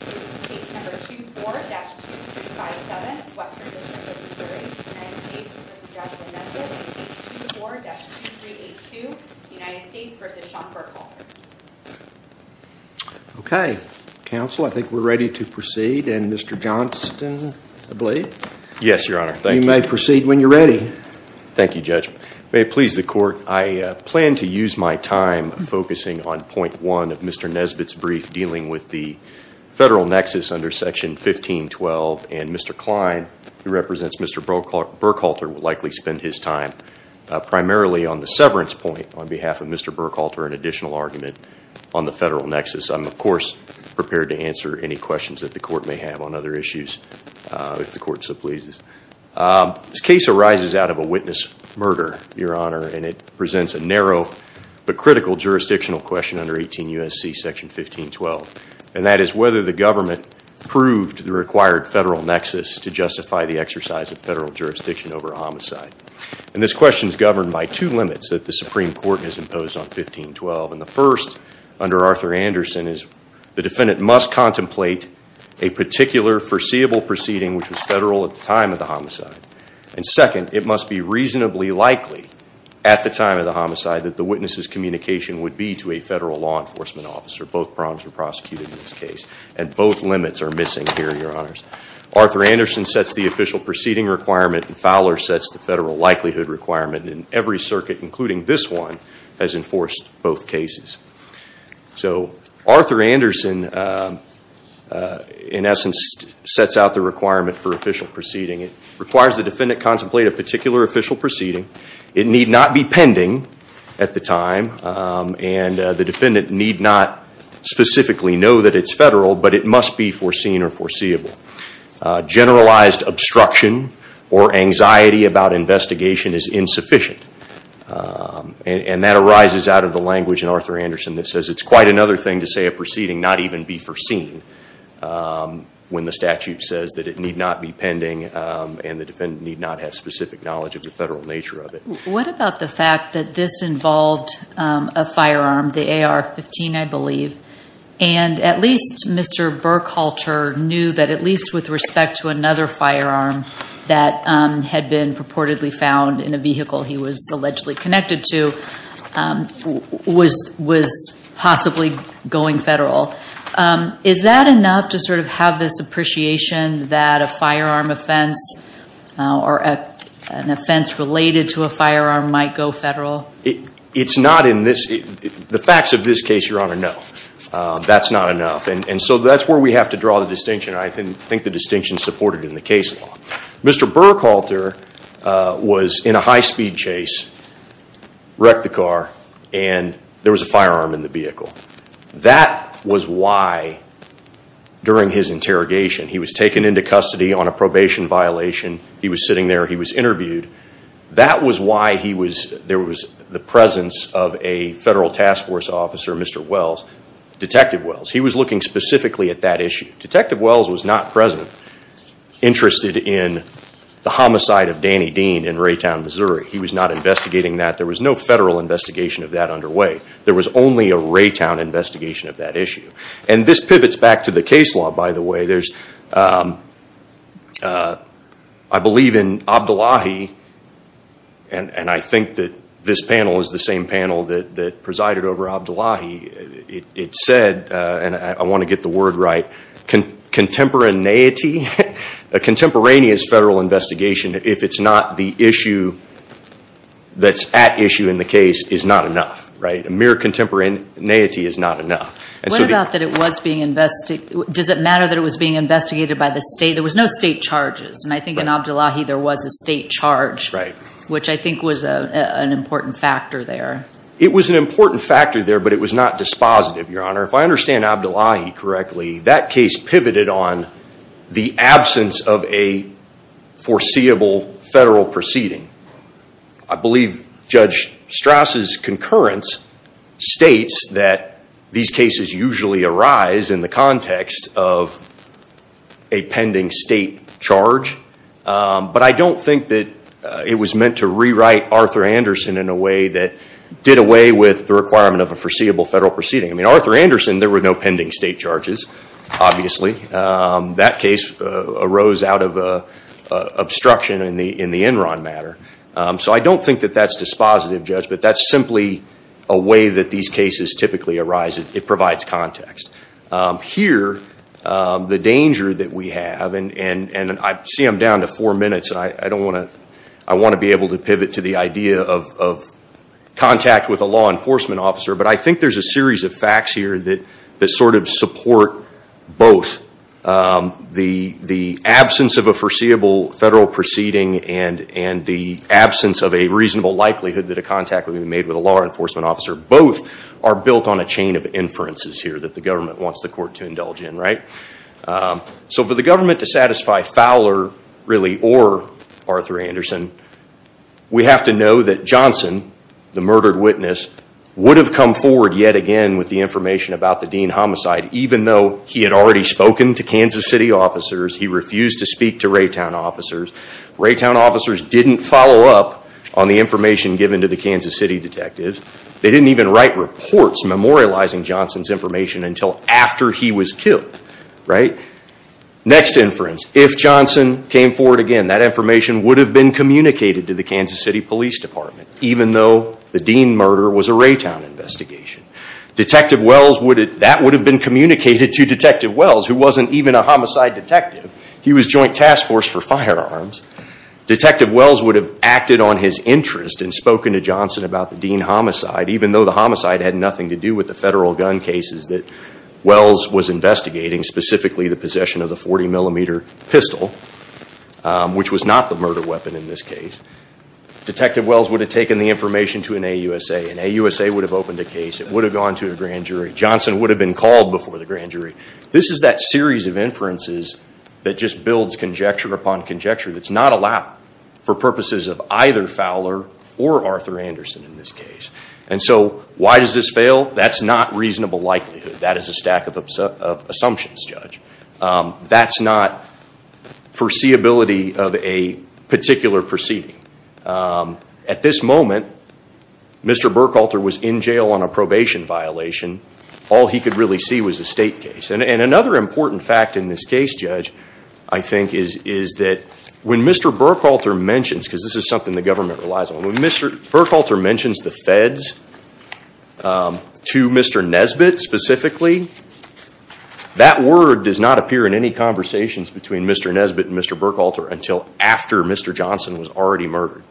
Case No. 24-2357, Western District of Missouri. United States v. Joshua Nesbitt. Case No. 24-2382, United States v. Sean Burkholder. The federal nexus under Section 1512, and Mr. Klein, who represents Mr. Burkholder, will likely spend his time primarily on the severance point on behalf of Mr. Burkholder, an additional argument on the federal nexus. I'm, of course, prepared to answer any questions that the court may have on other issues, if the court so pleases. This case arises out of a witness murder, Your Honor, and it presents a narrow but critical jurisdictional question under 18 U.S.C. Section 1512. And that is whether the government proved the required federal nexus to justify the exercise of federal jurisdiction over a homicide. And this question is governed by two limits that the Supreme Court has imposed on 1512. And the first, under Arthur Anderson, is the defendant must contemplate a particular foreseeable proceeding which was federal at the time of the homicide. And second, it must be reasonably likely, at the time of the homicide, that the witness's communication would be to a federal law enforcement officer. Both problems are prosecuted in this case, and both limits are missing here, Your Honors. Arthur Anderson sets the official proceeding requirement, and Fowler sets the federal likelihood requirement. And every circuit, including this one, has enforced both cases. So, Arthur Anderson, in essence, sets out the requirement for official proceeding. It requires the defendant contemplate a particular official proceeding. It need not be pending at the time, and the defendant need not specifically know that it's federal, but it must be foreseen or foreseeable. Generalized obstruction or anxiety about investigation is insufficient. And that arises out of the language in Arthur Anderson that says it's quite another thing to say a proceeding not even be foreseen when the statute says that it need not be pending and the defendant need not have specific knowledge of the federal nature of it. What about the fact that this involved a firearm, the AR-15, I believe, and at least Mr. Burkhalter knew that at least with respect to another firearm that had been purportedly found in a vehicle he was allegedly connected to was possibly going federal. Is that enough to sort of have this appreciation that a firearm offense or an offense related to a firearm might go federal? It's not in this – the facts of this case, Your Honor, no. That's not enough. And so that's where we have to draw the distinction. I think the distinction's supported in the case law. Mr. Burkhalter was in a high-speed chase, wrecked the car, and there was a firearm in the vehicle. That was why, during his interrogation, he was taken into custody on a probation violation. He was sitting there. He was interviewed. That was why there was the presence of a federal task force officer, Mr. Wells, Detective Wells. He was looking specifically at that issue. Detective Wells was not present, interested in the homicide of Danny Dean in Raytown, Missouri. He was not investigating that. There was no federal investigation of that underway. There was only a Raytown investigation of that issue. And this pivots back to the case law, by the way. There's – I believe in Abdullahi, and I think that this panel is the same panel that presided over Abdullahi. It said, and I want to get the word right, contemporaneity, a contemporaneous federal investigation, if it's not the issue that's at issue in the case, is not enough. Right? A mere contemporaneity is not enough. What about that it was being – does it matter that it was being investigated by the state? There was no state charges, and I think in Abdullahi there was a state charge, which I think was an important factor there. It was an important factor there, but it was not dispositive, Your Honor. If I understand Abdullahi correctly, that case pivoted on the absence of a foreseeable federal proceeding. I believe Judge Straus' concurrence states that these cases usually arise in the context of a pending state charge, but I don't think that it was meant to rewrite Arthur Anderson in a way that did away with the requirement of a foreseeable federal proceeding. I mean, Arthur Anderson, there were no pending state charges, obviously. That case arose out of obstruction in the Enron matter. So I don't think that that's dispositive, Judge, but that's simply a way that these cases typically arise. It provides context. Here, the danger that we have, and I see I'm down to four minutes, and I don't want to – I want to be able to pivot to the idea of contact with a law enforcement officer, but I think there's a series of facts here that sort of support both the absence of a foreseeable federal proceeding and the absence of a reasonable likelihood that a contact would be made with a law enforcement officer. Both are built on a chain of inferences here that the government wants the court to indulge in, right? So for the government to satisfy Fowler, really, or Arthur Anderson, we have to know that Johnson, the murdered witness, would have come forward yet again with the information about the Dean homicide, even though he had already spoken to Kansas City officers. He refused to speak to Raytown officers. Raytown officers didn't follow up on the information given to the Kansas City detectives. They didn't even write reports memorializing Johnson's information until after he was killed, right? Next inference, if Johnson came forward again, that information would have been communicated to the Kansas City Police Department, even though the Dean murder was a Raytown investigation. Detective Wells would have – that would have been communicated to Detective Wells, who wasn't even a homicide detective. He was joint task force for firearms. Detective Wells would have acted on his interest and spoken to Johnson about the Dean homicide, even though the homicide had nothing to do with the federal gun cases that Wells was investigating, specifically the possession of the 40-millimeter pistol, which was not the murder weapon in this case. Detective Wells would have taken the information to an AUSA. An AUSA would have opened a case. It would have gone to a grand jury. Johnson would have been called before the grand jury. This is that series of inferences that just builds conjecture upon conjecture that's not allowed for purposes of either Fowler or Arthur Anderson in this case. And so why does this fail? That's not reasonable likelihood. That is a stack of assumptions, Judge. That's not foreseeability of a particular proceeding. At this moment, Mr. Burkhalter was in jail on a probation violation. All he could really see was a state case. And another important fact in this case, Judge, I think, is that when Mr. Burkhalter mentions – because this is something the government relies on – when Mr. Burkhalter mentions the feds to Mr. Nesbitt specifically, that word does not appear in any conversations between Mr. Nesbitt and Mr. Burkhalter until after Mr. Johnson was already murdered.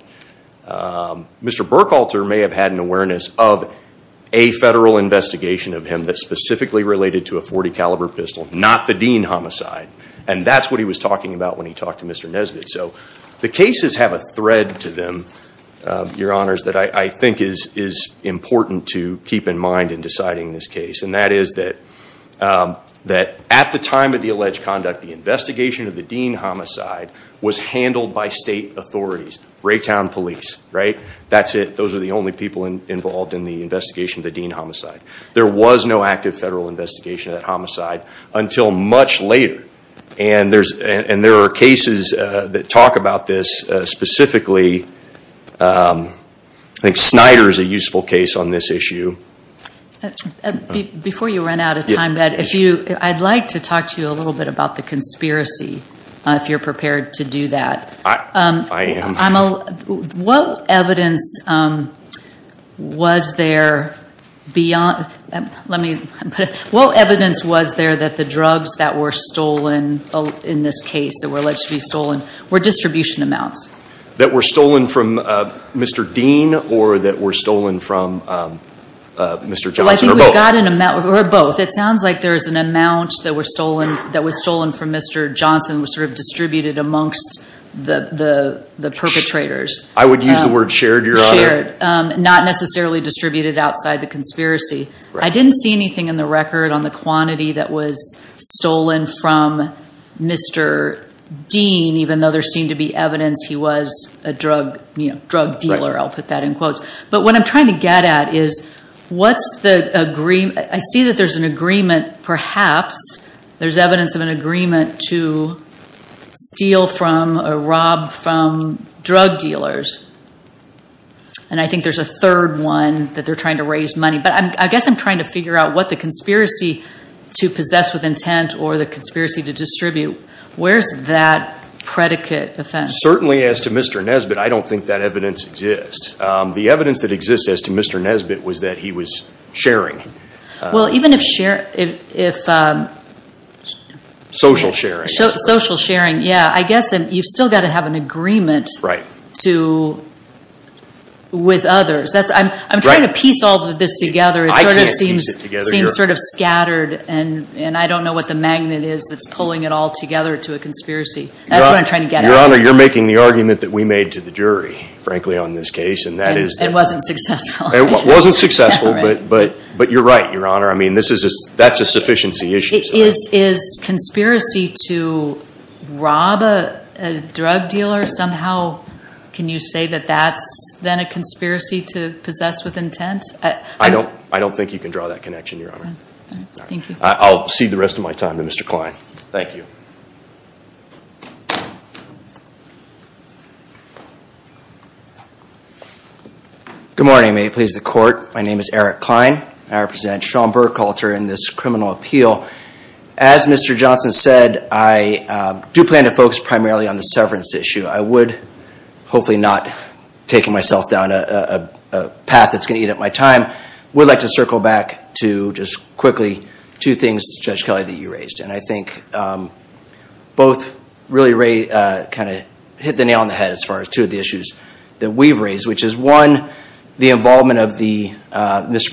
Mr. Burkhalter may have had an awareness of a federal investigation of him that specifically related to a 40-caliber pistol, not the Dean homicide. And that's what he was talking about when he talked to Mr. Nesbitt. So the cases have a thread to them, Your Honors, that I think is important to keep in mind in deciding this case. And that is that at the time of the alleged conduct, the investigation of the Dean homicide was handled by state authorities. Raytown police, right? That's it. Those are the only people involved in the investigation of the Dean homicide. There was no active federal investigation of that homicide until much later. And there are cases that talk about this specifically. I think Snyder is a useful case on this issue. Before you run out of time, I'd like to talk to you a little bit about the conspiracy, if you're prepared to do that. I am. What evidence was there that the drugs that were stolen in this case, that were alleged to be stolen, were distribution amounts? That were stolen from Mr. Dean or that were stolen from Mr. Johnson or both? It sounds like there was an amount that was stolen from Mr. Johnson that was distributed amongst the perpetrators. I would use the word shared, Your Honor. Shared. Not necessarily distributed outside the conspiracy. I didn't see anything in the record on the quantity that was stolen from Mr. Dean, even though there seemed to be evidence he was a drug dealer. I'll put that in quotes. But what I'm trying to get at is, I see that there's an agreement, perhaps. There's evidence of an agreement to steal from or rob from drug dealers. And I think there's a third one that they're trying to raise money. But I guess I'm trying to figure out what the conspiracy to possess with intent or the conspiracy to distribute. Where's that predicate? Certainly, as to Mr. Nesbitt, I don't think that evidence exists. The evidence that exists as to Mr. Nesbitt was that he was sharing. Well, even if shared, if... Social sharing. Social sharing, yeah. I guess you've still got to have an agreement with others. I'm trying to piece all of this together. I can't piece it together, Your Honor. It seems sort of scattered. And I don't know what the magnet is that's pulling it all together to a conspiracy. That's what I'm trying to get at. Your Honor, you're making the argument that we made to the jury, frankly, on this case, and that is... It wasn't successful. It wasn't successful, but you're right, Your Honor. I mean, that's a sufficiency issue. Is conspiracy to rob a drug dealer somehow, can you say that that's then a conspiracy to possess with intent? I don't think you can draw that connection, Your Honor. Thank you. I'll cede the rest of my time to Mr. Klein. Thank you. Good morning. May it please the Court. My name is Eric Klein. I represent Sean Burkhalter in this criminal appeal. As Mr. Johnson said, I do plan to focus primarily on the severance issue. I would, hopefully not taking myself down a path that's going to eat up my time, would like to circle back to, just quickly, two things, Judge Kelly, that you raised. And I think both really kind of hit the nail on the head as far as two of the issues that we've raised, which is, one, the involvement of Mr.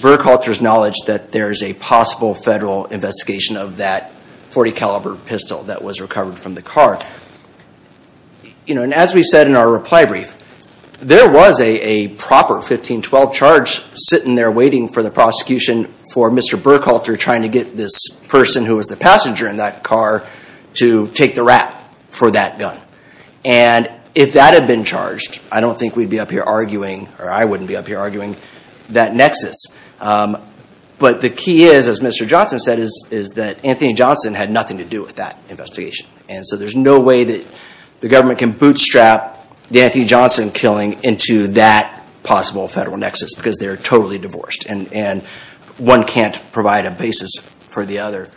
Burkhalter's knowledge that there is a possible federal investigation of that .40 caliber pistol that was recovered from the car. And as we said in our reply brief, there was a proper 1512 charge sitting there waiting for the prosecution for Mr. Burkhalter trying to get this person who was the passenger in that car to take the rap for that gun. And if that had been charged, I don't think we'd be up here arguing, or I wouldn't be up here arguing, that nexus. But the key is, as Mr. Johnson said, is that Anthony Johnson had nothing to do with that investigation. And so there's no way that the government can bootstrap the Anthony Johnson killing into that possible federal nexus, because they're totally divorced, and one can't provide a basis for the other.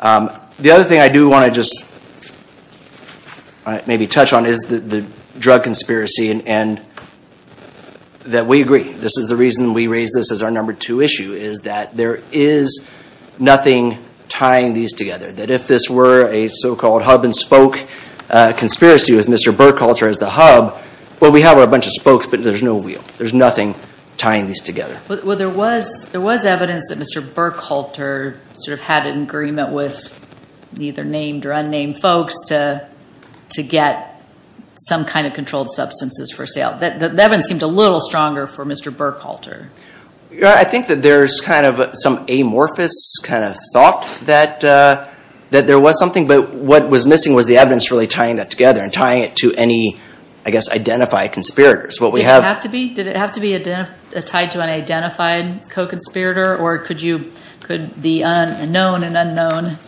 The other thing I do want to just maybe touch on is the drug conspiracy, and that we agree. This is the reason we raise this as our number two issue, is that there is nothing tying these together. That if this were a so-called hub-and-spoke conspiracy with Mr. Burkhalter as the hub, well, we have our bunch of spokes, but there's no wheel. There's nothing tying these together. Well, there was evidence that Mr. Burkhalter sort of had an agreement with either named or unnamed folks to get some kind of controlled substances for sale. That evidence seemed a little stronger for Mr. Burkhalter. I think that there's kind of some amorphous kind of thought that there was something, but what was missing was the evidence really tying that together and tying it to any, I guess, identified conspirators. Did it have to be tied to an identified co-conspirator, or could the unknown and unknown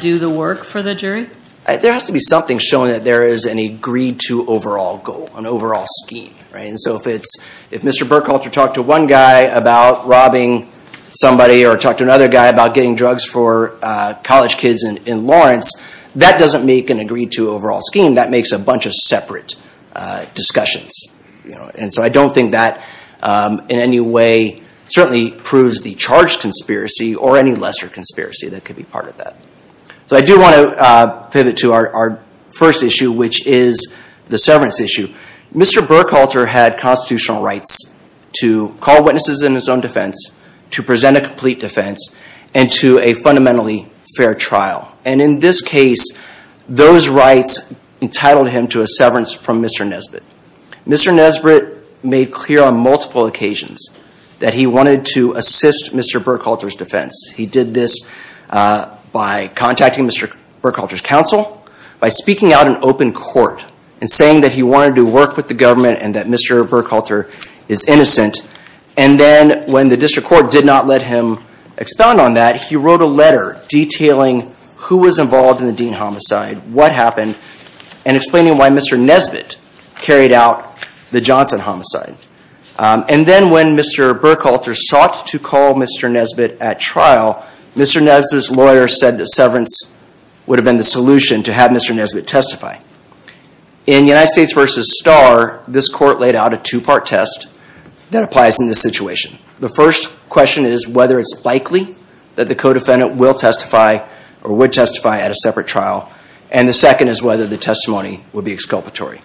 do the work for the jury? There has to be something showing that there is an agreed-to overall goal, an overall scheme. If Mr. Burkhalter talked to one guy about robbing somebody or talked to another guy about getting drugs for college kids in Lawrence, that doesn't make an agreed-to overall scheme. That makes a bunch of separate discussions. I don't think that in any way certainly proves the charge conspiracy or any lesser conspiracy that could be part of that. I do want to pivot to our first issue, which is the severance issue. Mr. Burkhalter had constitutional rights to call witnesses in his own defense, to present a complete defense, and to a fundamentally fair trial. And in this case, those rights entitled him to a severance from Mr. Nesbitt. Mr. Nesbitt made clear on multiple occasions that he wanted to assist Mr. Burkhalter's defense. He did this by contacting Mr. Burkhalter's counsel, by speaking out in open court, and saying that he wanted to work with the government and that Mr. Burkhalter is innocent. And then when the district court did not let him expound on that, he wrote a letter detailing who was involved in the Dean homicide, what happened, and explaining why Mr. Nesbitt carried out the Johnson homicide. And then when Mr. Burkhalter sought to call Mr. Nesbitt at trial, Mr. Nesbitt's lawyer said that severance would have been the solution to have Mr. Nesbitt testify. In United States v. Starr, this court laid out a two-part test that applies in this situation. The first question is whether it's likely that the co-defendant will testify or would testify at a separate trial, and the second is whether the testimony would be exculpatory.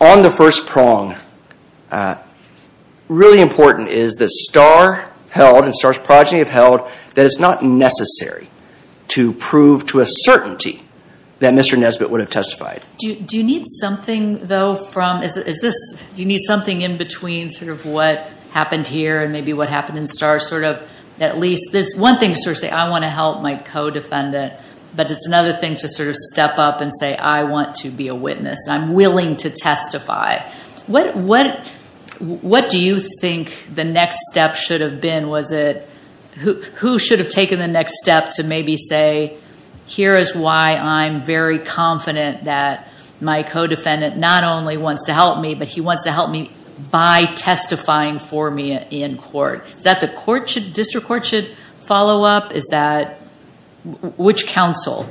On the first prong, really important is that Starr held, and Starr's progeny have held, that it's not necessary to prove to a certainty that Mr. Nesbitt would have testified. Do you need something, though, from, is this, do you need something in between sort of what happened here and maybe what happened in Starr sort of at least, there's one thing to sort of say I want to help my co-defendant, but it's another thing to sort of step up and say I want to be a witness, I'm willing to testify. What do you think the next step should have been? Was it, who should have taken the next step to maybe say here is why I'm very confident that my co-defendant not only wants to help me, but he wants to help me by testifying for me in court. Is that the court should, district court should follow up? Is that, which counsel,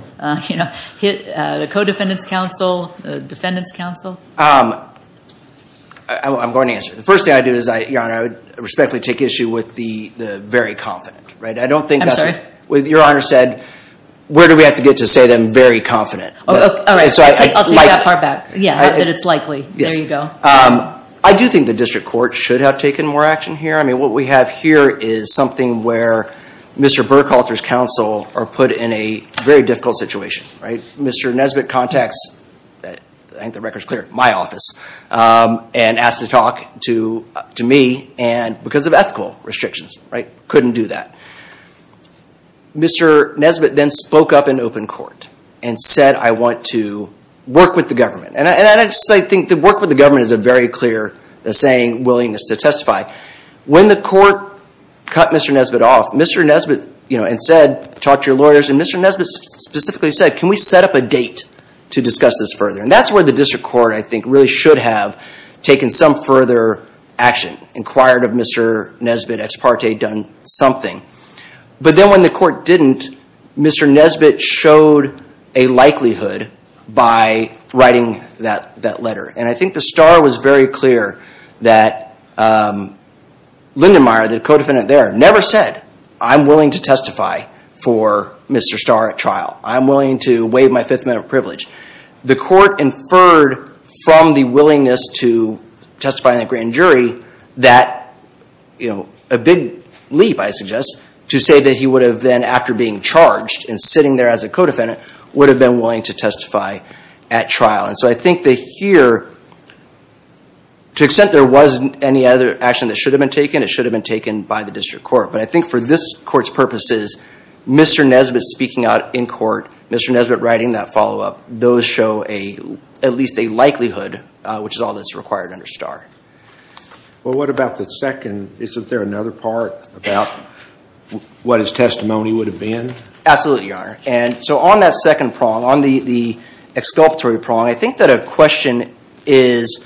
you know, the co-defendant's counsel, the defendant's counsel? I'm going to answer. The first thing I'd do is, Your Honor, I would respectfully take issue with the very confident, right? I don't think that's. Your Honor said, where do we have to get to say that I'm very confident? All right. I'll take that part back. Yeah, that it's likely. There you go. I do think the district court should have taken more action here. I mean, what we have here is something where Mr. Burkhalter's counsel are put in a very difficult situation, right? Mr. Nesbitt contacts, I think the record's clear, my office, and asked to talk to me because of ethical restrictions, right? Couldn't do that. Mr. Nesbitt then spoke up in open court and said, I want to work with the government. And I think the work with the government is a very clear saying, willingness to testify. When the court cut Mr. Nesbitt off, Mr. Nesbitt, you know, and said, talk to your lawyers, and Mr. Nesbitt specifically said, can we set up a date to discuss this further? And that's where the district court, I think, really should have taken some further action, inquired of Mr. Nesbitt, ex parte, done something. But then when the court didn't, Mr. Nesbitt showed a likelihood by writing that letter. And I think the star was very clear that Lindenmeier, the co-defendant there, never said, I'm willing to testify for Mr. Starr at trial. I'm willing to waive my fifth amendment of privilege. The court inferred from the willingness to testify in the grand jury that, you know, a big leap, I suggest, to say that he would have then, after being charged and sitting there as a co-defendant, would have been willing to testify at trial. And so I think that here, to the extent there wasn't any other action that should have been taken, it should have been taken by the district court. But I think for this court's purposes, Mr. Nesbitt speaking out in court, Mr. Nesbitt writing that follow-up, those show at least a likelihood, which is all that's required under Starr. Well, what about the second? Isn't there another part about what his testimony would have been? Absolutely, Your Honor. And so on that second prong, on the exculpatory prong, I think that a question is,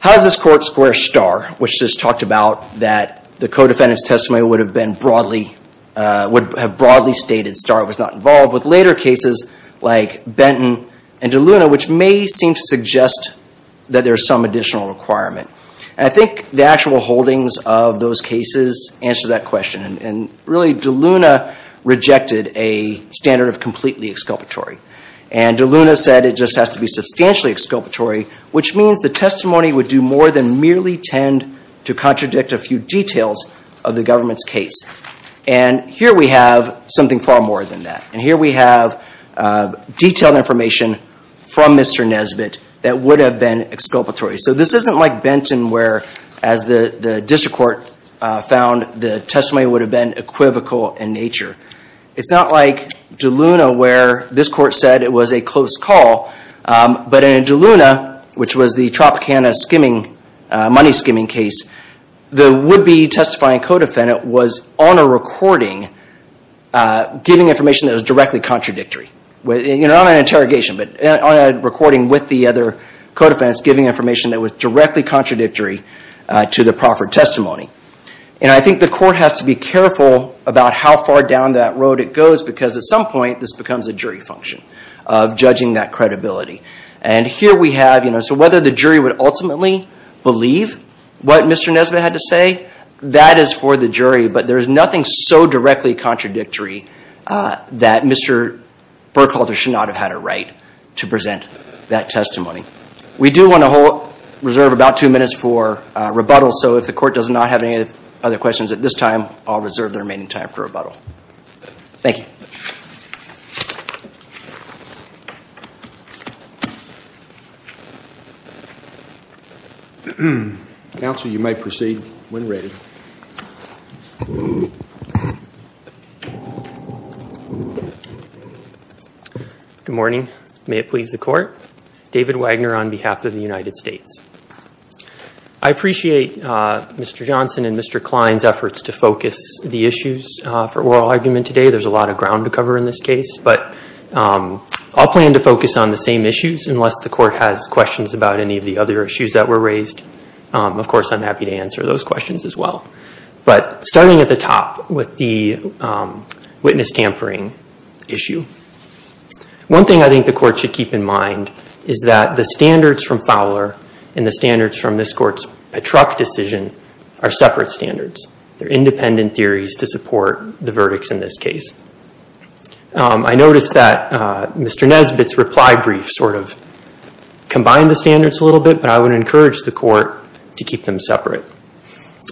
how does this court square Starr, which is talked about that the co-defendant's testimony would have been broadly, would have broadly stated Starr was not involved, with later cases like Benton and DeLuna, which may seem to suggest that there's some additional requirement. And I think the actual holdings of those cases answer that question. And really, DeLuna rejected a standard of completely exculpatory. And DeLuna said it just has to be substantially exculpatory, which means the testimony would do more than merely tend to contradict a few details of the government's case. And here we have something far more than that. And here we have detailed information from Mr. Nesbitt that would have been exculpatory. So this isn't like Benton where, as the district court found, the testimony would have been equivocal in nature. It's not like DeLuna where this court said it was a close call. But in DeLuna, which was the Tropicana money skimming case, the would-be testifying co-defendant was on a recording giving information that was directly contradictory. You know, not an interrogation, but on a recording with the other co-defendants giving information that was directly contradictory to the proffered testimony. And I think the court has to be careful about how far down that road it goes because at some point this becomes a jury function of judging that credibility. And here we have, you know, so whether the jury would ultimately believe what Mr. Nesbitt had to say, that is for the jury, but there is nothing so directly contradictory that Mr. Burkhalter should not have had a right to present that testimony. We do want to reserve about two minutes for rebuttal, so if the court does not have any other questions at this time, I'll reserve the remaining time for rebuttal. Thank you. Counsel, you may proceed when ready. Good morning. May it please the Court. David Wagner on behalf of the United States. I appreciate Mr. Johnson and Mr. Klein's efforts to focus the issues for oral argument today. There's a lot of ground to cover in this case, but I'll plan to focus on the same issues unless the court has questions about any of the other issues that were raised. Of course, I'm happy to answer those questions as well. But starting at the top with the witness tampering issue, one thing I think the court should keep in mind is that the standards from Fowler and the standards from this Court's Patruck decision are separate standards. They're independent theories to support the verdicts in this case. I noticed that Mr. Nesbitt's reply brief sort of combined the standards a little bit, but I would encourage the court to keep them separate.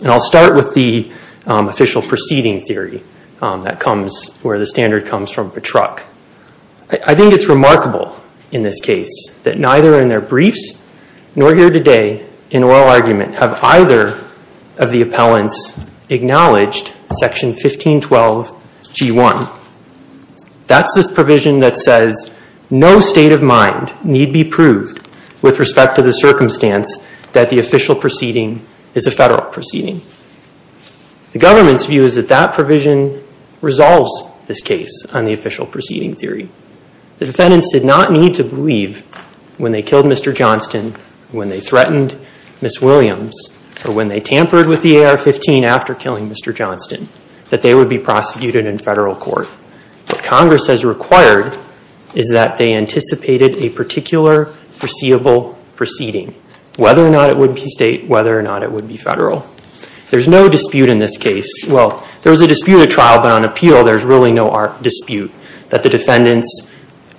And I'll start with the official proceeding theory where the standard comes from Patruck. I think it's remarkable in this case that neither in their briefs nor here today in oral argument have either of the appellants acknowledged Section 1512G1. That's this provision that says no state of mind need be proved with respect to the circumstance that the official proceeding is a federal proceeding. The government's view is that that provision resolves this case on the official proceeding theory. The defendants did not need to believe when they killed Mr. Johnston, when they threatened Ms. Williams, or when they tampered with the AR-15 after killing Mr. Johnston, that they would be prosecuted in federal court. What Congress has required is that they anticipated a particular foreseeable proceeding, whether or not it would be state, whether or not it would be federal. There was a disputed trial, but on appeal there's really no dispute that the defendants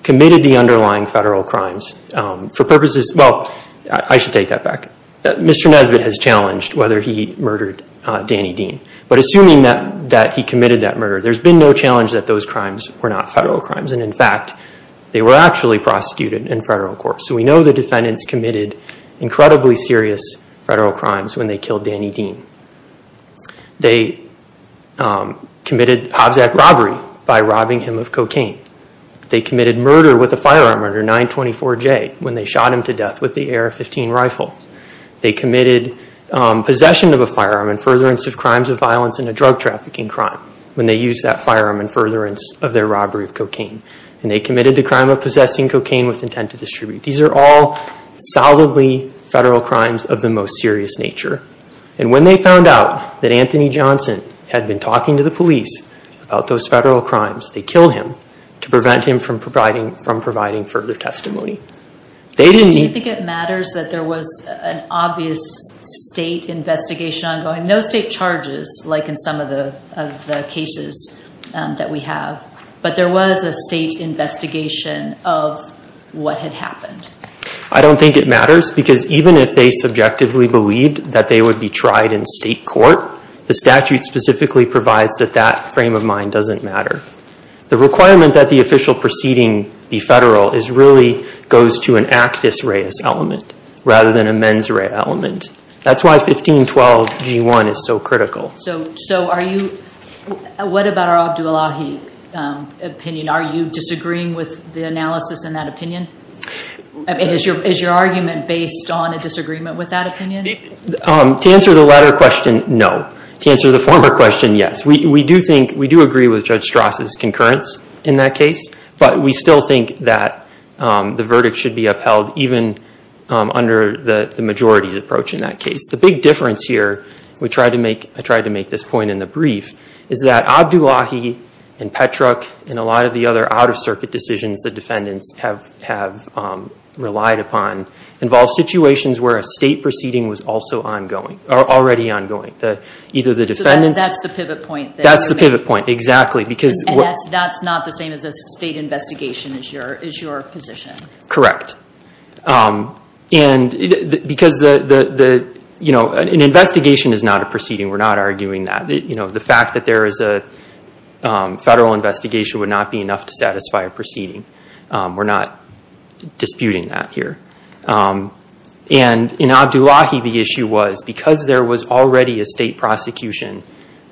committed the underlying federal crimes. For purposes, well, I should take that back. Mr. Nesbitt has challenged whether he murdered Danny Dean. But assuming that he committed that murder, there's been no challenge that those crimes were not federal crimes. And in fact, they were actually prosecuted in federal court. So we know the defendants committed incredibly serious federal crimes when they killed Danny Dean. They committed Hobbs Act robbery by robbing him of cocaine. They committed murder with a firearm under 924J when they shot him to death with the AR-15 rifle. They committed possession of a firearm and furtherance of crimes of violence and a drug trafficking crime when they used that firearm in furtherance of their robbery of cocaine. And they committed the crime of possessing cocaine with intent to distribute. These are all solidly federal crimes of the most serious nature. And when they found out that Anthony Johnson had been talking to the police about those federal crimes, they killed him to prevent him from providing further testimony. They didn't... Do you think it matters that there was an obvious state investigation ongoing? No state charges like in some of the cases that we have, but there was a state investigation of what had happened. I don't think it matters because even if they subjectively believed that they would be tried in state court, the statute specifically provides that that frame of mind doesn't matter. The requirement that the official proceeding be federal really goes to an actus reus element rather than a mens rea element. That's why 1512G1 is so critical. So what about our Abdullahi opinion? Are you disagreeing with the analysis in that opinion? Is your argument based on a disagreement with that opinion? To answer the latter question, no. To answer the former question, yes. We do agree with Judge Strasse's concurrence in that case, but we still think that the verdict should be upheld even under the majority's approach in that case. The big difference here, I tried to make this point in the brief, is that Abdullahi and Petruk and a lot of the other out-of-circuit decisions the defendants have relied upon involve situations where a state proceeding was already ongoing. That's the pivot point, exactly. And that's not the same as a state investigation is your position? Correct. An investigation is not a proceeding. We're not arguing that. The fact that there is a federal investigation would not be enough to satisfy a proceeding. We're not disputing that here. And in Abdullahi, the issue was because there was already a state prosecution,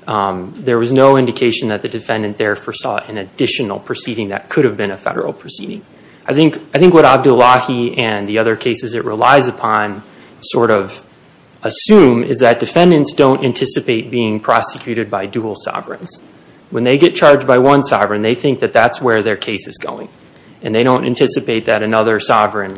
there was no indication that the defendant there foresaw an additional proceeding that could have been a federal proceeding. I think what Abdullahi and the other cases it relies upon sort of assume is that defendants don't anticipate being prosecuted by dual sovereigns. When they get charged by one sovereign, they think that that's where their case is going. And they don't anticipate that another sovereign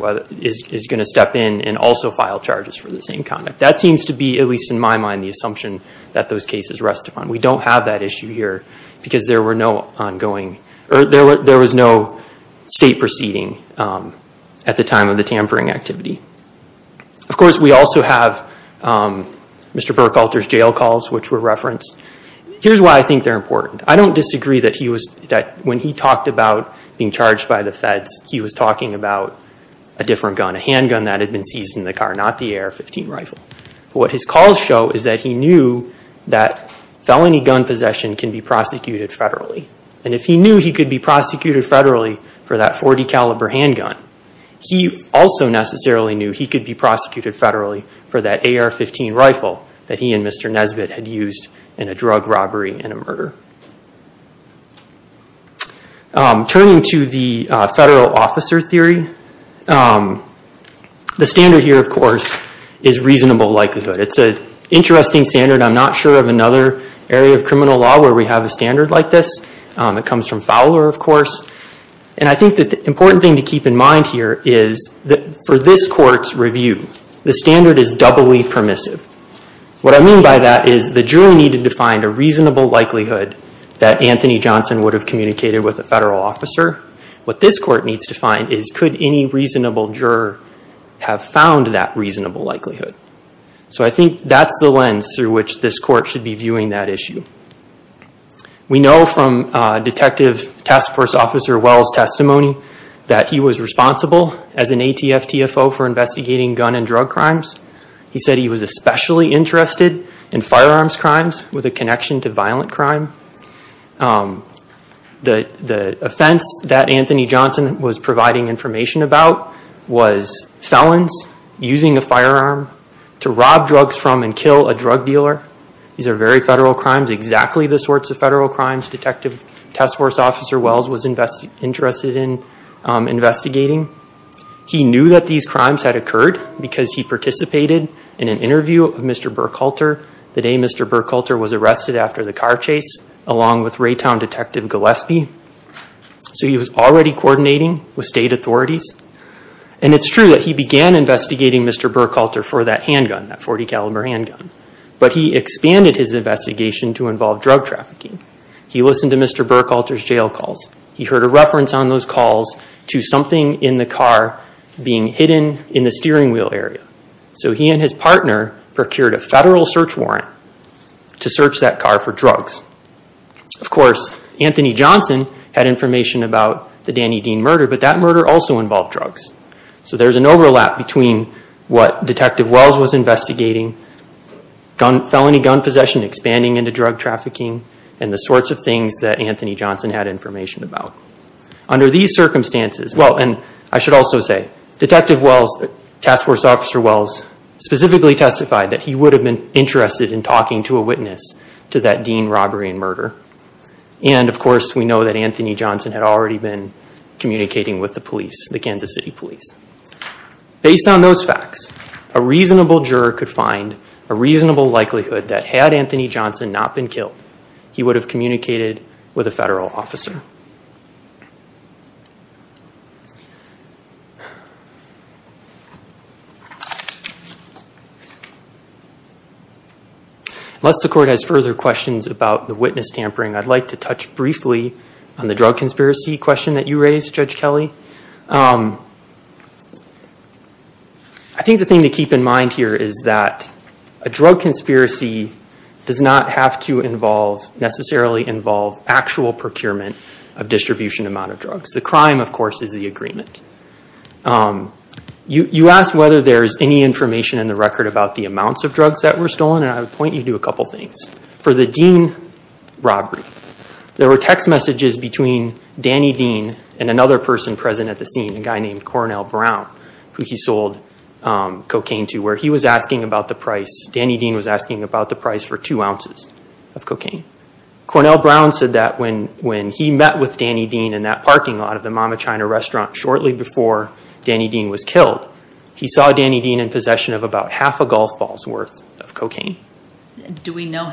is going to step in and also file charges for the same conduct. That seems to be, at least in my mind, the assumption that those cases rest upon. We don't have that issue here because there was no state proceeding at the time of the tampering activity. Of course, we also have Mr. Burkhalter's jail calls, which were referenced. Here's why I think they're important. I don't disagree that when he talked about being charged by the feds, he was talking about a different gun, a handgun that had been seized in the car, not the AR-15 rifle. What his calls show is that he knew that felony gun possession can be prosecuted federally. And if he knew he could be prosecuted federally for that .40 caliber handgun, he also necessarily knew he could be prosecuted federally for that AR-15 rifle that he and Mr. Nesbitt had used in a drug robbery and a murder. Turning to the federal officer theory, the standard here, of course, is reasonable likelihood. It's an interesting standard. I'm not sure of another area of criminal law where we have a standard like this. It comes from Fowler, of course. The important thing to keep in mind here is that for this court's review, the standard is doubly permissive. What I mean by that is the jury needed to find a reasonable likelihood that Anthony Johnson would have communicated with a federal officer. What this court needs to find is, could any reasonable juror have found that reasonable likelihood? I think that's the lens through which this court should be viewing that issue. We know from Detective Task Force Officer Wells' testimony that he was responsible as an ATF TFO for investigating gun and drug crimes. He said he was especially interested in firearms crimes with a connection to violent crime. The offense that Anthony Johnson was providing information about was felons using a firearm to rob drugs from and kill a drug dealer. These are very federal crimes, exactly the sorts of federal crimes Detective Task Force Officer Wells was interested in investigating. He knew that these crimes had occurred because he participated in an interview of Mr. Burkhalter the day Mr. Burkhalter was arrested after the car chase, along with Raytown Detective Gillespie. He was already coordinating with state authorities. It's true that he began investigating Mr. Burkhalter for that handgun, that .40 caliber handgun. But he expanded his investigation to involve drug trafficking. He listened to Mr. Burkhalter's jail calls. He heard a reference on those calls to something in the car being hidden in the steering wheel area. So he and his partner procured a federal search warrant to search that car for drugs. Of course, Anthony Johnson had information about the Danny Dean murder, but that murder also involved drugs. So there's an overlap between what Detective Wells was investigating, felony gun possession expanding into drug trafficking, and the sorts of things that Anthony Johnson had information about. Under these circumstances, well, and I should also say, Detective Wells, Task Force Officer Wells, specifically testified that he would have been interested in talking to a witness to that Dean robbery and murder. And of course, we know that Anthony Johnson had already been communicating with the police, the Kansas City police. Based on those facts, a reasonable juror could find a reasonable likelihood that had Anthony Johnson not been killed, he would have communicated with a federal officer. Unless the court has further questions about the witness tampering, I'd like to touch briefly on the drug conspiracy question that you raised, Judge Kelly. I think the thing to keep in mind here is that a drug conspiracy does not have to necessarily involve actual procurement of distribution amount of drugs. The crime, of course, is the agreement. You asked whether there's any information in the record about the amounts of drugs that were stolen, and I would point you to a couple of things. For the Dean robbery, there were text messages between Danny Dean and another person present at the scene, a guy named Cornell Brown, who he sold cocaine to, where he was asking about the price. Danny Dean was asking about the price for two ounces of cocaine. Cornell Brown said that when he met with Danny Dean in that parking lot of the Mama China restaurant shortly before Danny Dean was killed, he saw Danny Dean in possession of about half a golf ball's worth of cocaine. We know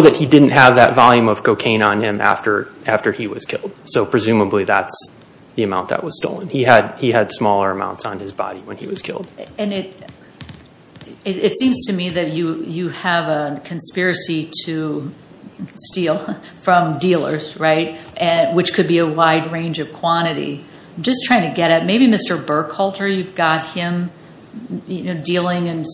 that he didn't have that volume of cocaine on him after he was killed, so presumably that's the amount that was stolen. He had smaller amounts on his body when he was killed. It seems to me that you have a conspiracy to steal from dealers, which could be a wide range of quantity. I'm just trying to get it. Maybe Mr. Burkhalter, you've got him dealing in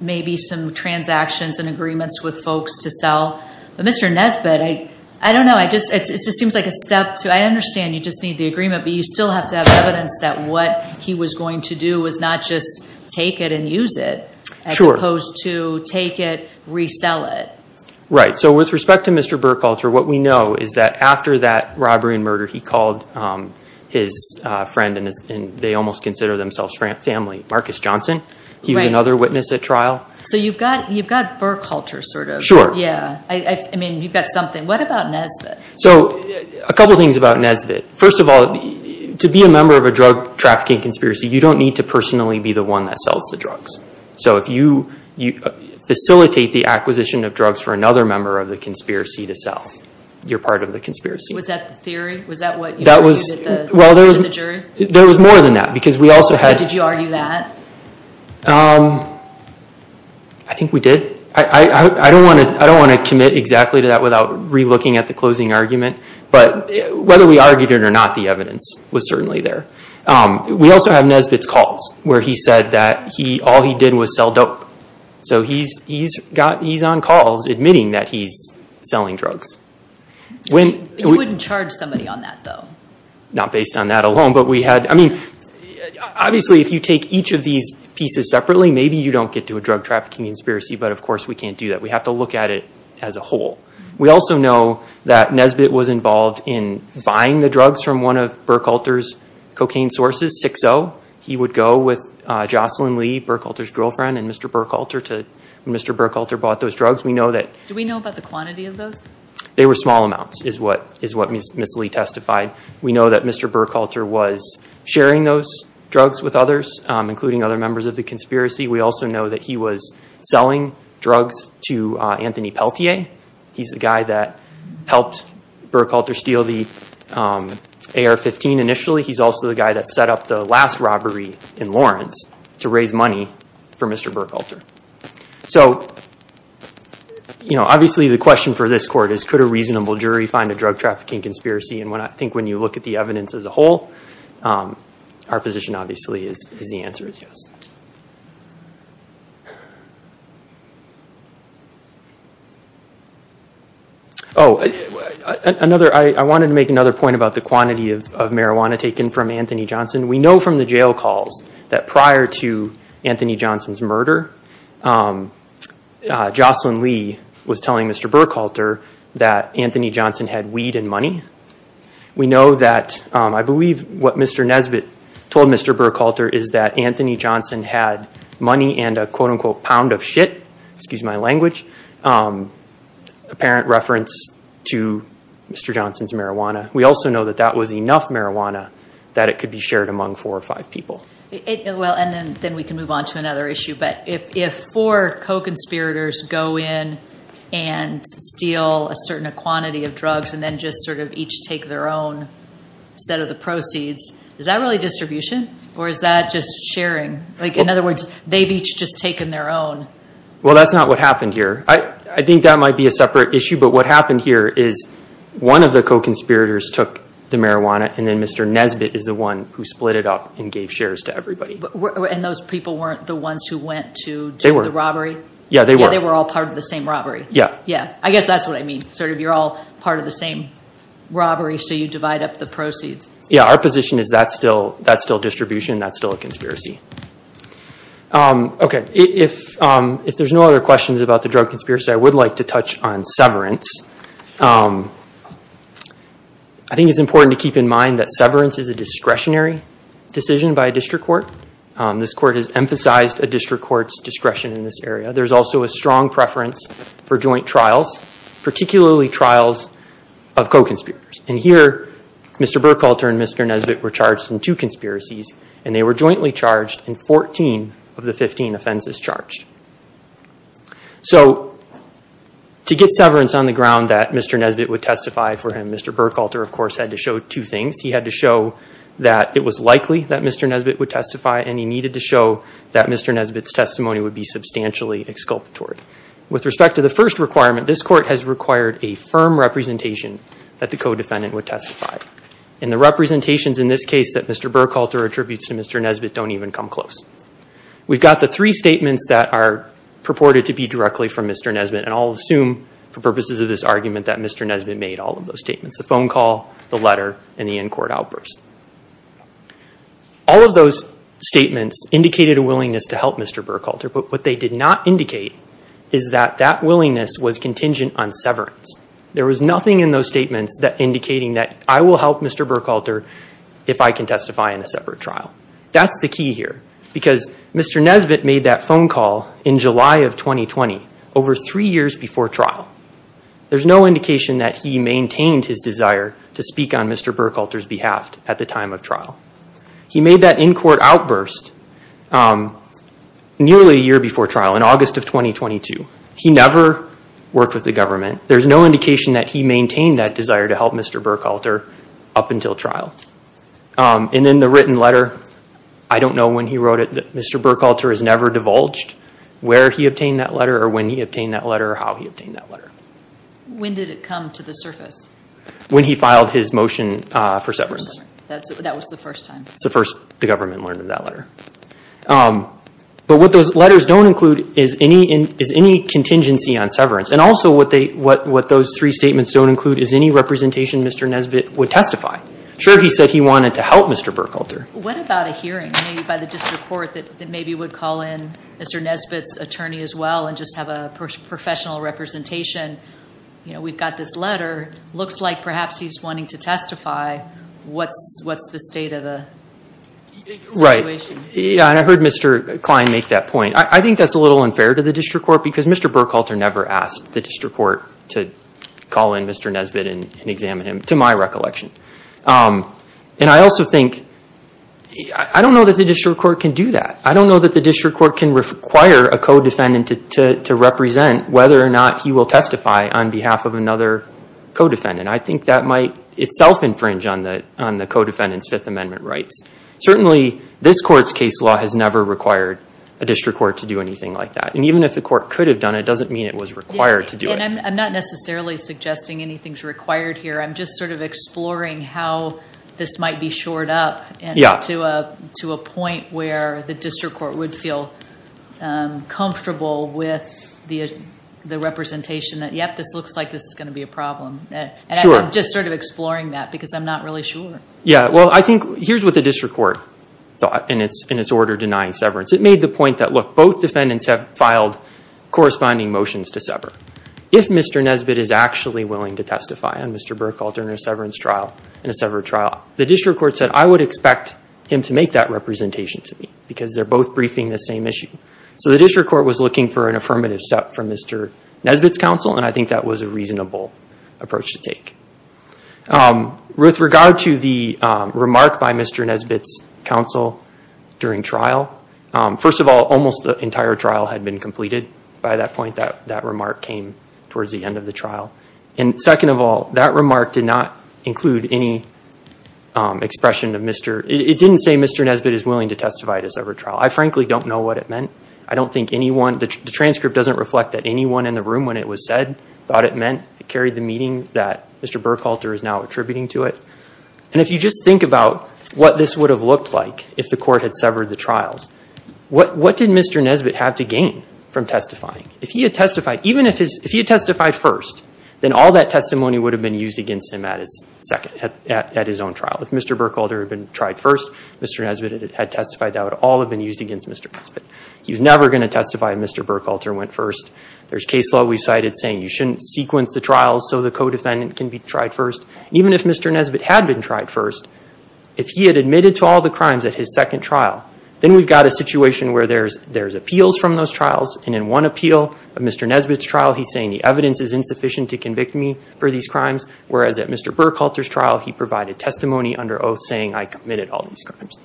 maybe some transactions and agreements with folks to sell. But Mr. Nesbitt, I don't know. It just seems like a step. I understand you just need the agreement, but you still have to have evidence that what he was going to do was not just take it and use it, as opposed to take it, resell it. Right. So with respect to Mr. Burkhalter, what we know is that after that robbery and murder, he called his friend, and they almost consider themselves family, Marcus Johnson. He was another witness at trial. So you've got Burkhalter, sort of. Sure. What about Nesbitt? A couple things about Nesbitt. First of all, to be a member of a drug trafficking conspiracy, you don't need to personally be the one that sells the drugs. So if you facilitate the acquisition of drugs for another member of the conspiracy to sell, you're part of the conspiracy. Was that the theory? Was that what you argued to the jury? There was more than that. Did you argue that? I think we did. I don't want to commit exactly to that without re-looking at the closing argument. But whether we argued it or not, the evidence was certainly there. We also have Nesbitt's calls, where he said that all he did was sell dope. So he's on calls admitting that he's selling drugs. You wouldn't charge somebody on that, though? Not based on that alone. Obviously, if you take each of these pieces separately, maybe you don't get to a drug trafficking conspiracy, but of course we can't do that. We have to look at it as a whole. We also know that Nesbitt was involved in buying the drugs from one of Burkhalter's cocaine sources, 6-0. He would go with Jocelyn Lee, Burkhalter's girlfriend, and Mr. Burkhalter bought those drugs. Do we know about the quantity of those? They were small amounts, is what Ms. Lee testified. We know that Mr. Burkhalter was sharing those drugs with others, including other members of the conspiracy. We also know that he was selling drugs to Anthony Peltier. He's the guy that helped Burkhalter steal the AR-15 initially. He's also the guy that set up the last robbery in Lawrence to raise money for Mr. Burkhalter. Obviously, the question for this court is, could a reasonable jury find a drug trafficking conspiracy? I think when you look at the evidence as a whole, our position obviously is the answer is yes. I wanted to make another point about the quantity of marijuana taken from Anthony Johnson. We know from the jail calls that prior to Anthony Johnson's murder, Jocelyn Lee was telling Mr. Burkhalter that Anthony Johnson had weed and money. We know that, I believe what Mr. Nesbitt told Mr. Burkhalter is that Anthony Johnson had money and a pound of shit, apparent reference to Mr. Johnson's marijuana. We also know that that was enough marijuana that it could be shared among four or five people. If four co-conspirators go in and steal a certain quantity of drugs and then each take their own set of the proceeds, is that really distribution or is that just sharing? In other words, they've each just taken their own? Well, that's not what happened here. I think that might be a separate issue, but what happened here is one of the co-conspirators took the marijuana and then Mr. Nesbitt is the one who split it up and gave shares to everybody. And those people weren't the ones who went to do the robbery? Yeah, they were. They were all part of the same robbery? Yeah. I guess that's what I mean. You're all part of the same robbery, so you divide up the proceeds. Yeah, our position is that's still distribution, that's still a conspiracy. If there's no other questions about the drug conspiracy, I would like to touch on severance. I think it's important to keep in mind that severance is a discretionary decision by a district court. This court has emphasized a district court's discretion in this area. There's also a strong preference for joint trials, particularly trials of co-conspirators. And here, Mr. Burkhalter and Mr. Nesbitt were charged in two conspiracies, and they were jointly charged in 14 of the 15 offenses charged. So, to get severance on the ground that Mr. Nesbitt would testify for him, Mr. Burkhalter, of course, had to show two things. He had to show that it was likely that Mr. Nesbitt would testify, and he needed to show that Mr. Nesbitt's testimony would be substantially exculpatory. With respect to the first requirement, this court has required a firm representation that the co-defendant would testify. And the representations in this case that Mr. Burkhalter attributes to Mr. Nesbitt don't even come close. We've got the three statements that are purported to be directly from Mr. Nesbitt, and I'll assume, for purposes of this argument, that Mr. Nesbitt made all of those statements. The phone call, the letter, and the in-court outburst. All of those statements indicated a willingness to help Mr. Burkhalter, but what they did not indicate is that that willingness was contingent on severance. There was nothing in those statements indicating that I will help Mr. Burkhalter if I can testify in a separate trial. That's the key here, because Mr. Nesbitt made that phone call in July of 2020, over three years before trial. There's no indication that he maintained his desire to speak on Mr. Burkhalter's behalf at the time of trial. He made that in-court outburst nearly a year before trial, in August of 2022. He never worked with the government. There's no indication that he maintained that desire to help Mr. Burkhalter up until trial. And then the written letter, I don't know when he wrote it, that Mr. Burkhalter has never divulged where he obtained that letter, or when he obtained that letter, or how he obtained that letter. When did it come to the surface? When he filed his motion for severance. That was the first time? It's the first the government learned of that letter. But what those letters don't include is any contingency on severance. And also what those three statements don't include is any representation Mr. Nesbitt would testify. Sure, he said he wanted to help Mr. Burkhalter. What about a hearing by the district court that maybe would call in Mr. Nesbitt's attorney as well and just have a professional representation? We've got this letter. Looks like perhaps he's wanting to testify. What's the state of the situation? Right. I heard Mr. Klein make that point. I think that's a little unfair to the district court because Mr. Burkhalter never asked the district court to call in Mr. Nesbitt and examine him, to my recollection. And I also think, I don't know that the district court can do that. I don't know that the district court can require a co-defendant to represent whether or not he will testify on behalf of another co-defendant. I think that might itself infringe on the co-defendant's Fifth Amendment rights. Certainly this court's case law has never required a district court to do anything like that. And even if the court could have done it, it doesn't mean it was required to do it. I'm not necessarily suggesting anything's required here. I'm just sort of exploring how this might be shored up to a point where the district court would feel comfortable with the representation that, yep, this looks like this is going to be a problem. I'm just sort of exploring that because I'm not really sure. Yeah, well I think, here's what the district court thought in its order denying severance. It made the point that, look, both defendants have filed corresponding motions to sever. If Mr. Nesbitt is actually willing to testify on Mr. Burkhalter in a severance trial, the district court said, I would expect him to make that representation to me because they're both briefing the same issue. So the district court was looking for an affirmative step from Mr. Nesbitt's counsel and I think that was a reasonable approach to take. With regard to the remark by Mr. Nesbitt's counsel during trial, first of all, almost the entire trial had been completed by that point. That remark came towards the end of the trial. And second of all, that remark did not include any expression of Mr. It didn't say Mr. Nesbitt is willing to testify at a severance trial. I frankly don't know what it meant. I don't think anyone, the transcript doesn't reflect that anyone in the room when it was said thought it meant it carried the meaning that Mr. Burkhalter is now attributing to it. And if you just think about what this would have looked like if the court had severed the trials, what did Mr. Nesbitt have to gain from testifying? If he had testified, even if he had testified first, then all that testimony would have been used against him at his second, at his own trial. If Mr. Burkhalter had been tried first, Mr. Nesbitt had testified, that would all have been used against Mr. Nesbitt. He was never going to testify if Mr. Burkhalter went first. There's case law we've cited saying you shouldn't sequence the trials so the co-defendant can be tried first. Even if Mr. Nesbitt had been tried first, if he had admitted to all the crimes at his second trial, then we've got a situation where there's appeals from those trials, and in one appeal of Mr. Nesbitt's trial, he's saying the evidence is insufficient to convict me for these crimes, whereas at Mr. Burkhalter's trial, he provided testimony under oath saying I committed all these crimes.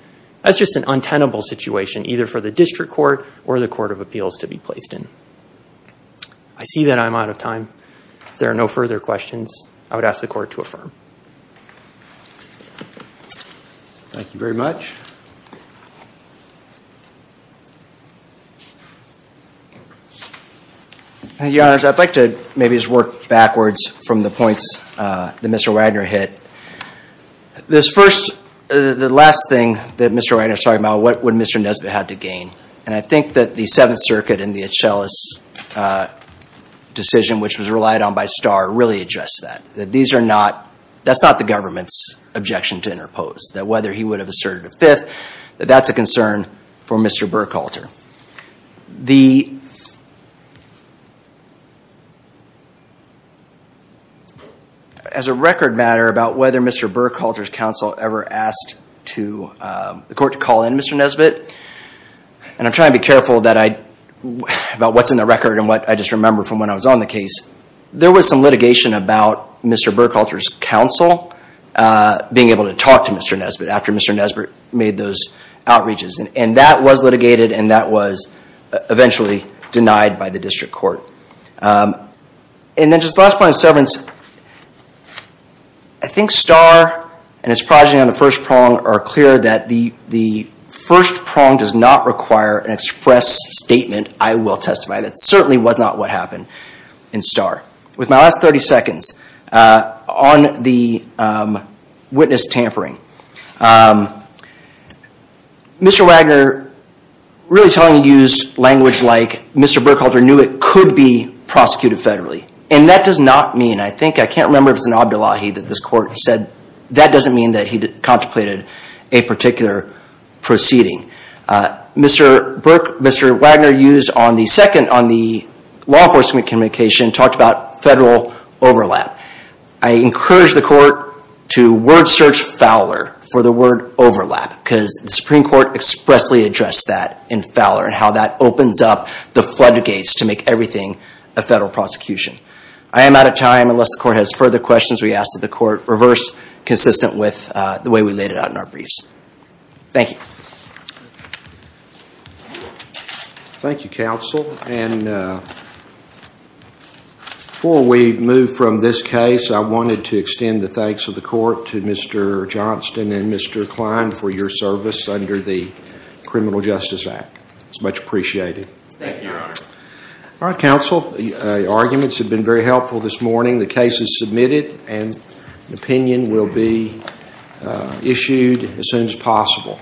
That's just an untenable situation, either for the district court or the court of appeals to be placed in. I see that I'm out of time. If there are no further questions, I would ask the court to affirm. Thank you very much. Your Honor, I'd like to maybe just work backwards from the points that Mr. Wagner hit. This first, the last thing that Mr. Wagner is talking about, what would Mr. Nesbitt have to gain? And I think that the Seventh Circuit and the Achelas decision, which was relied on by Starr, really addressed that. That these are not, that's not the government's objection to interpose. That whether he would have asserted a fifth, that that's a concern for Mr. Burkhalter. The... As a record matter about whether Mr. Burkhalter's counsel ever asked the court to call in Mr. Nesbitt, and I'm trying to be careful about what's in the record and what I just remember from when I was on the case. There was some litigation about Mr. Burkhalter's counsel being able to talk to Mr. Nesbitt after Mr. Nesbitt made those outreaches. And that was litigated and that was eventually denied by the district court. And then just the last point on severance, I think Starr and his projection on the first prong are clear that the first prong does not require an express statement, I will testify, that certainly was not what happened in Starr. With my last 30 seconds, on the witness tampering, Mr. Wagner really telling you to use language like Mr. Burkhalter knew it could be prosecuted federally. And that does not mean, I think, I can't remember if it was in Abdullahi that this court said, that doesn't mean that he contemplated a particular proceeding. Mr. Wagner used on the second, on the law enforcement communication, talked about federal overlap. I encourage the court to word search Fowler for the word overlap, because the Supreme Court expressly addressed that in Fowler and how that opens up the floodgates to make everything a federal prosecution. I am out of time. Unless the court has further questions, we ask that the court reverse consistent with the way we laid it out in our briefs. Thank you. Thank you, counsel. And before we move from this case, I wanted to extend the thanks of the court to Mr. Johnston and Mr. Klein for your service under the Criminal Justice Act. It's much appreciated. Thank you, your honor. All right, counsel. The arguments have been very helpful this morning. The case is submitted and opinion will be issued as soon as possible.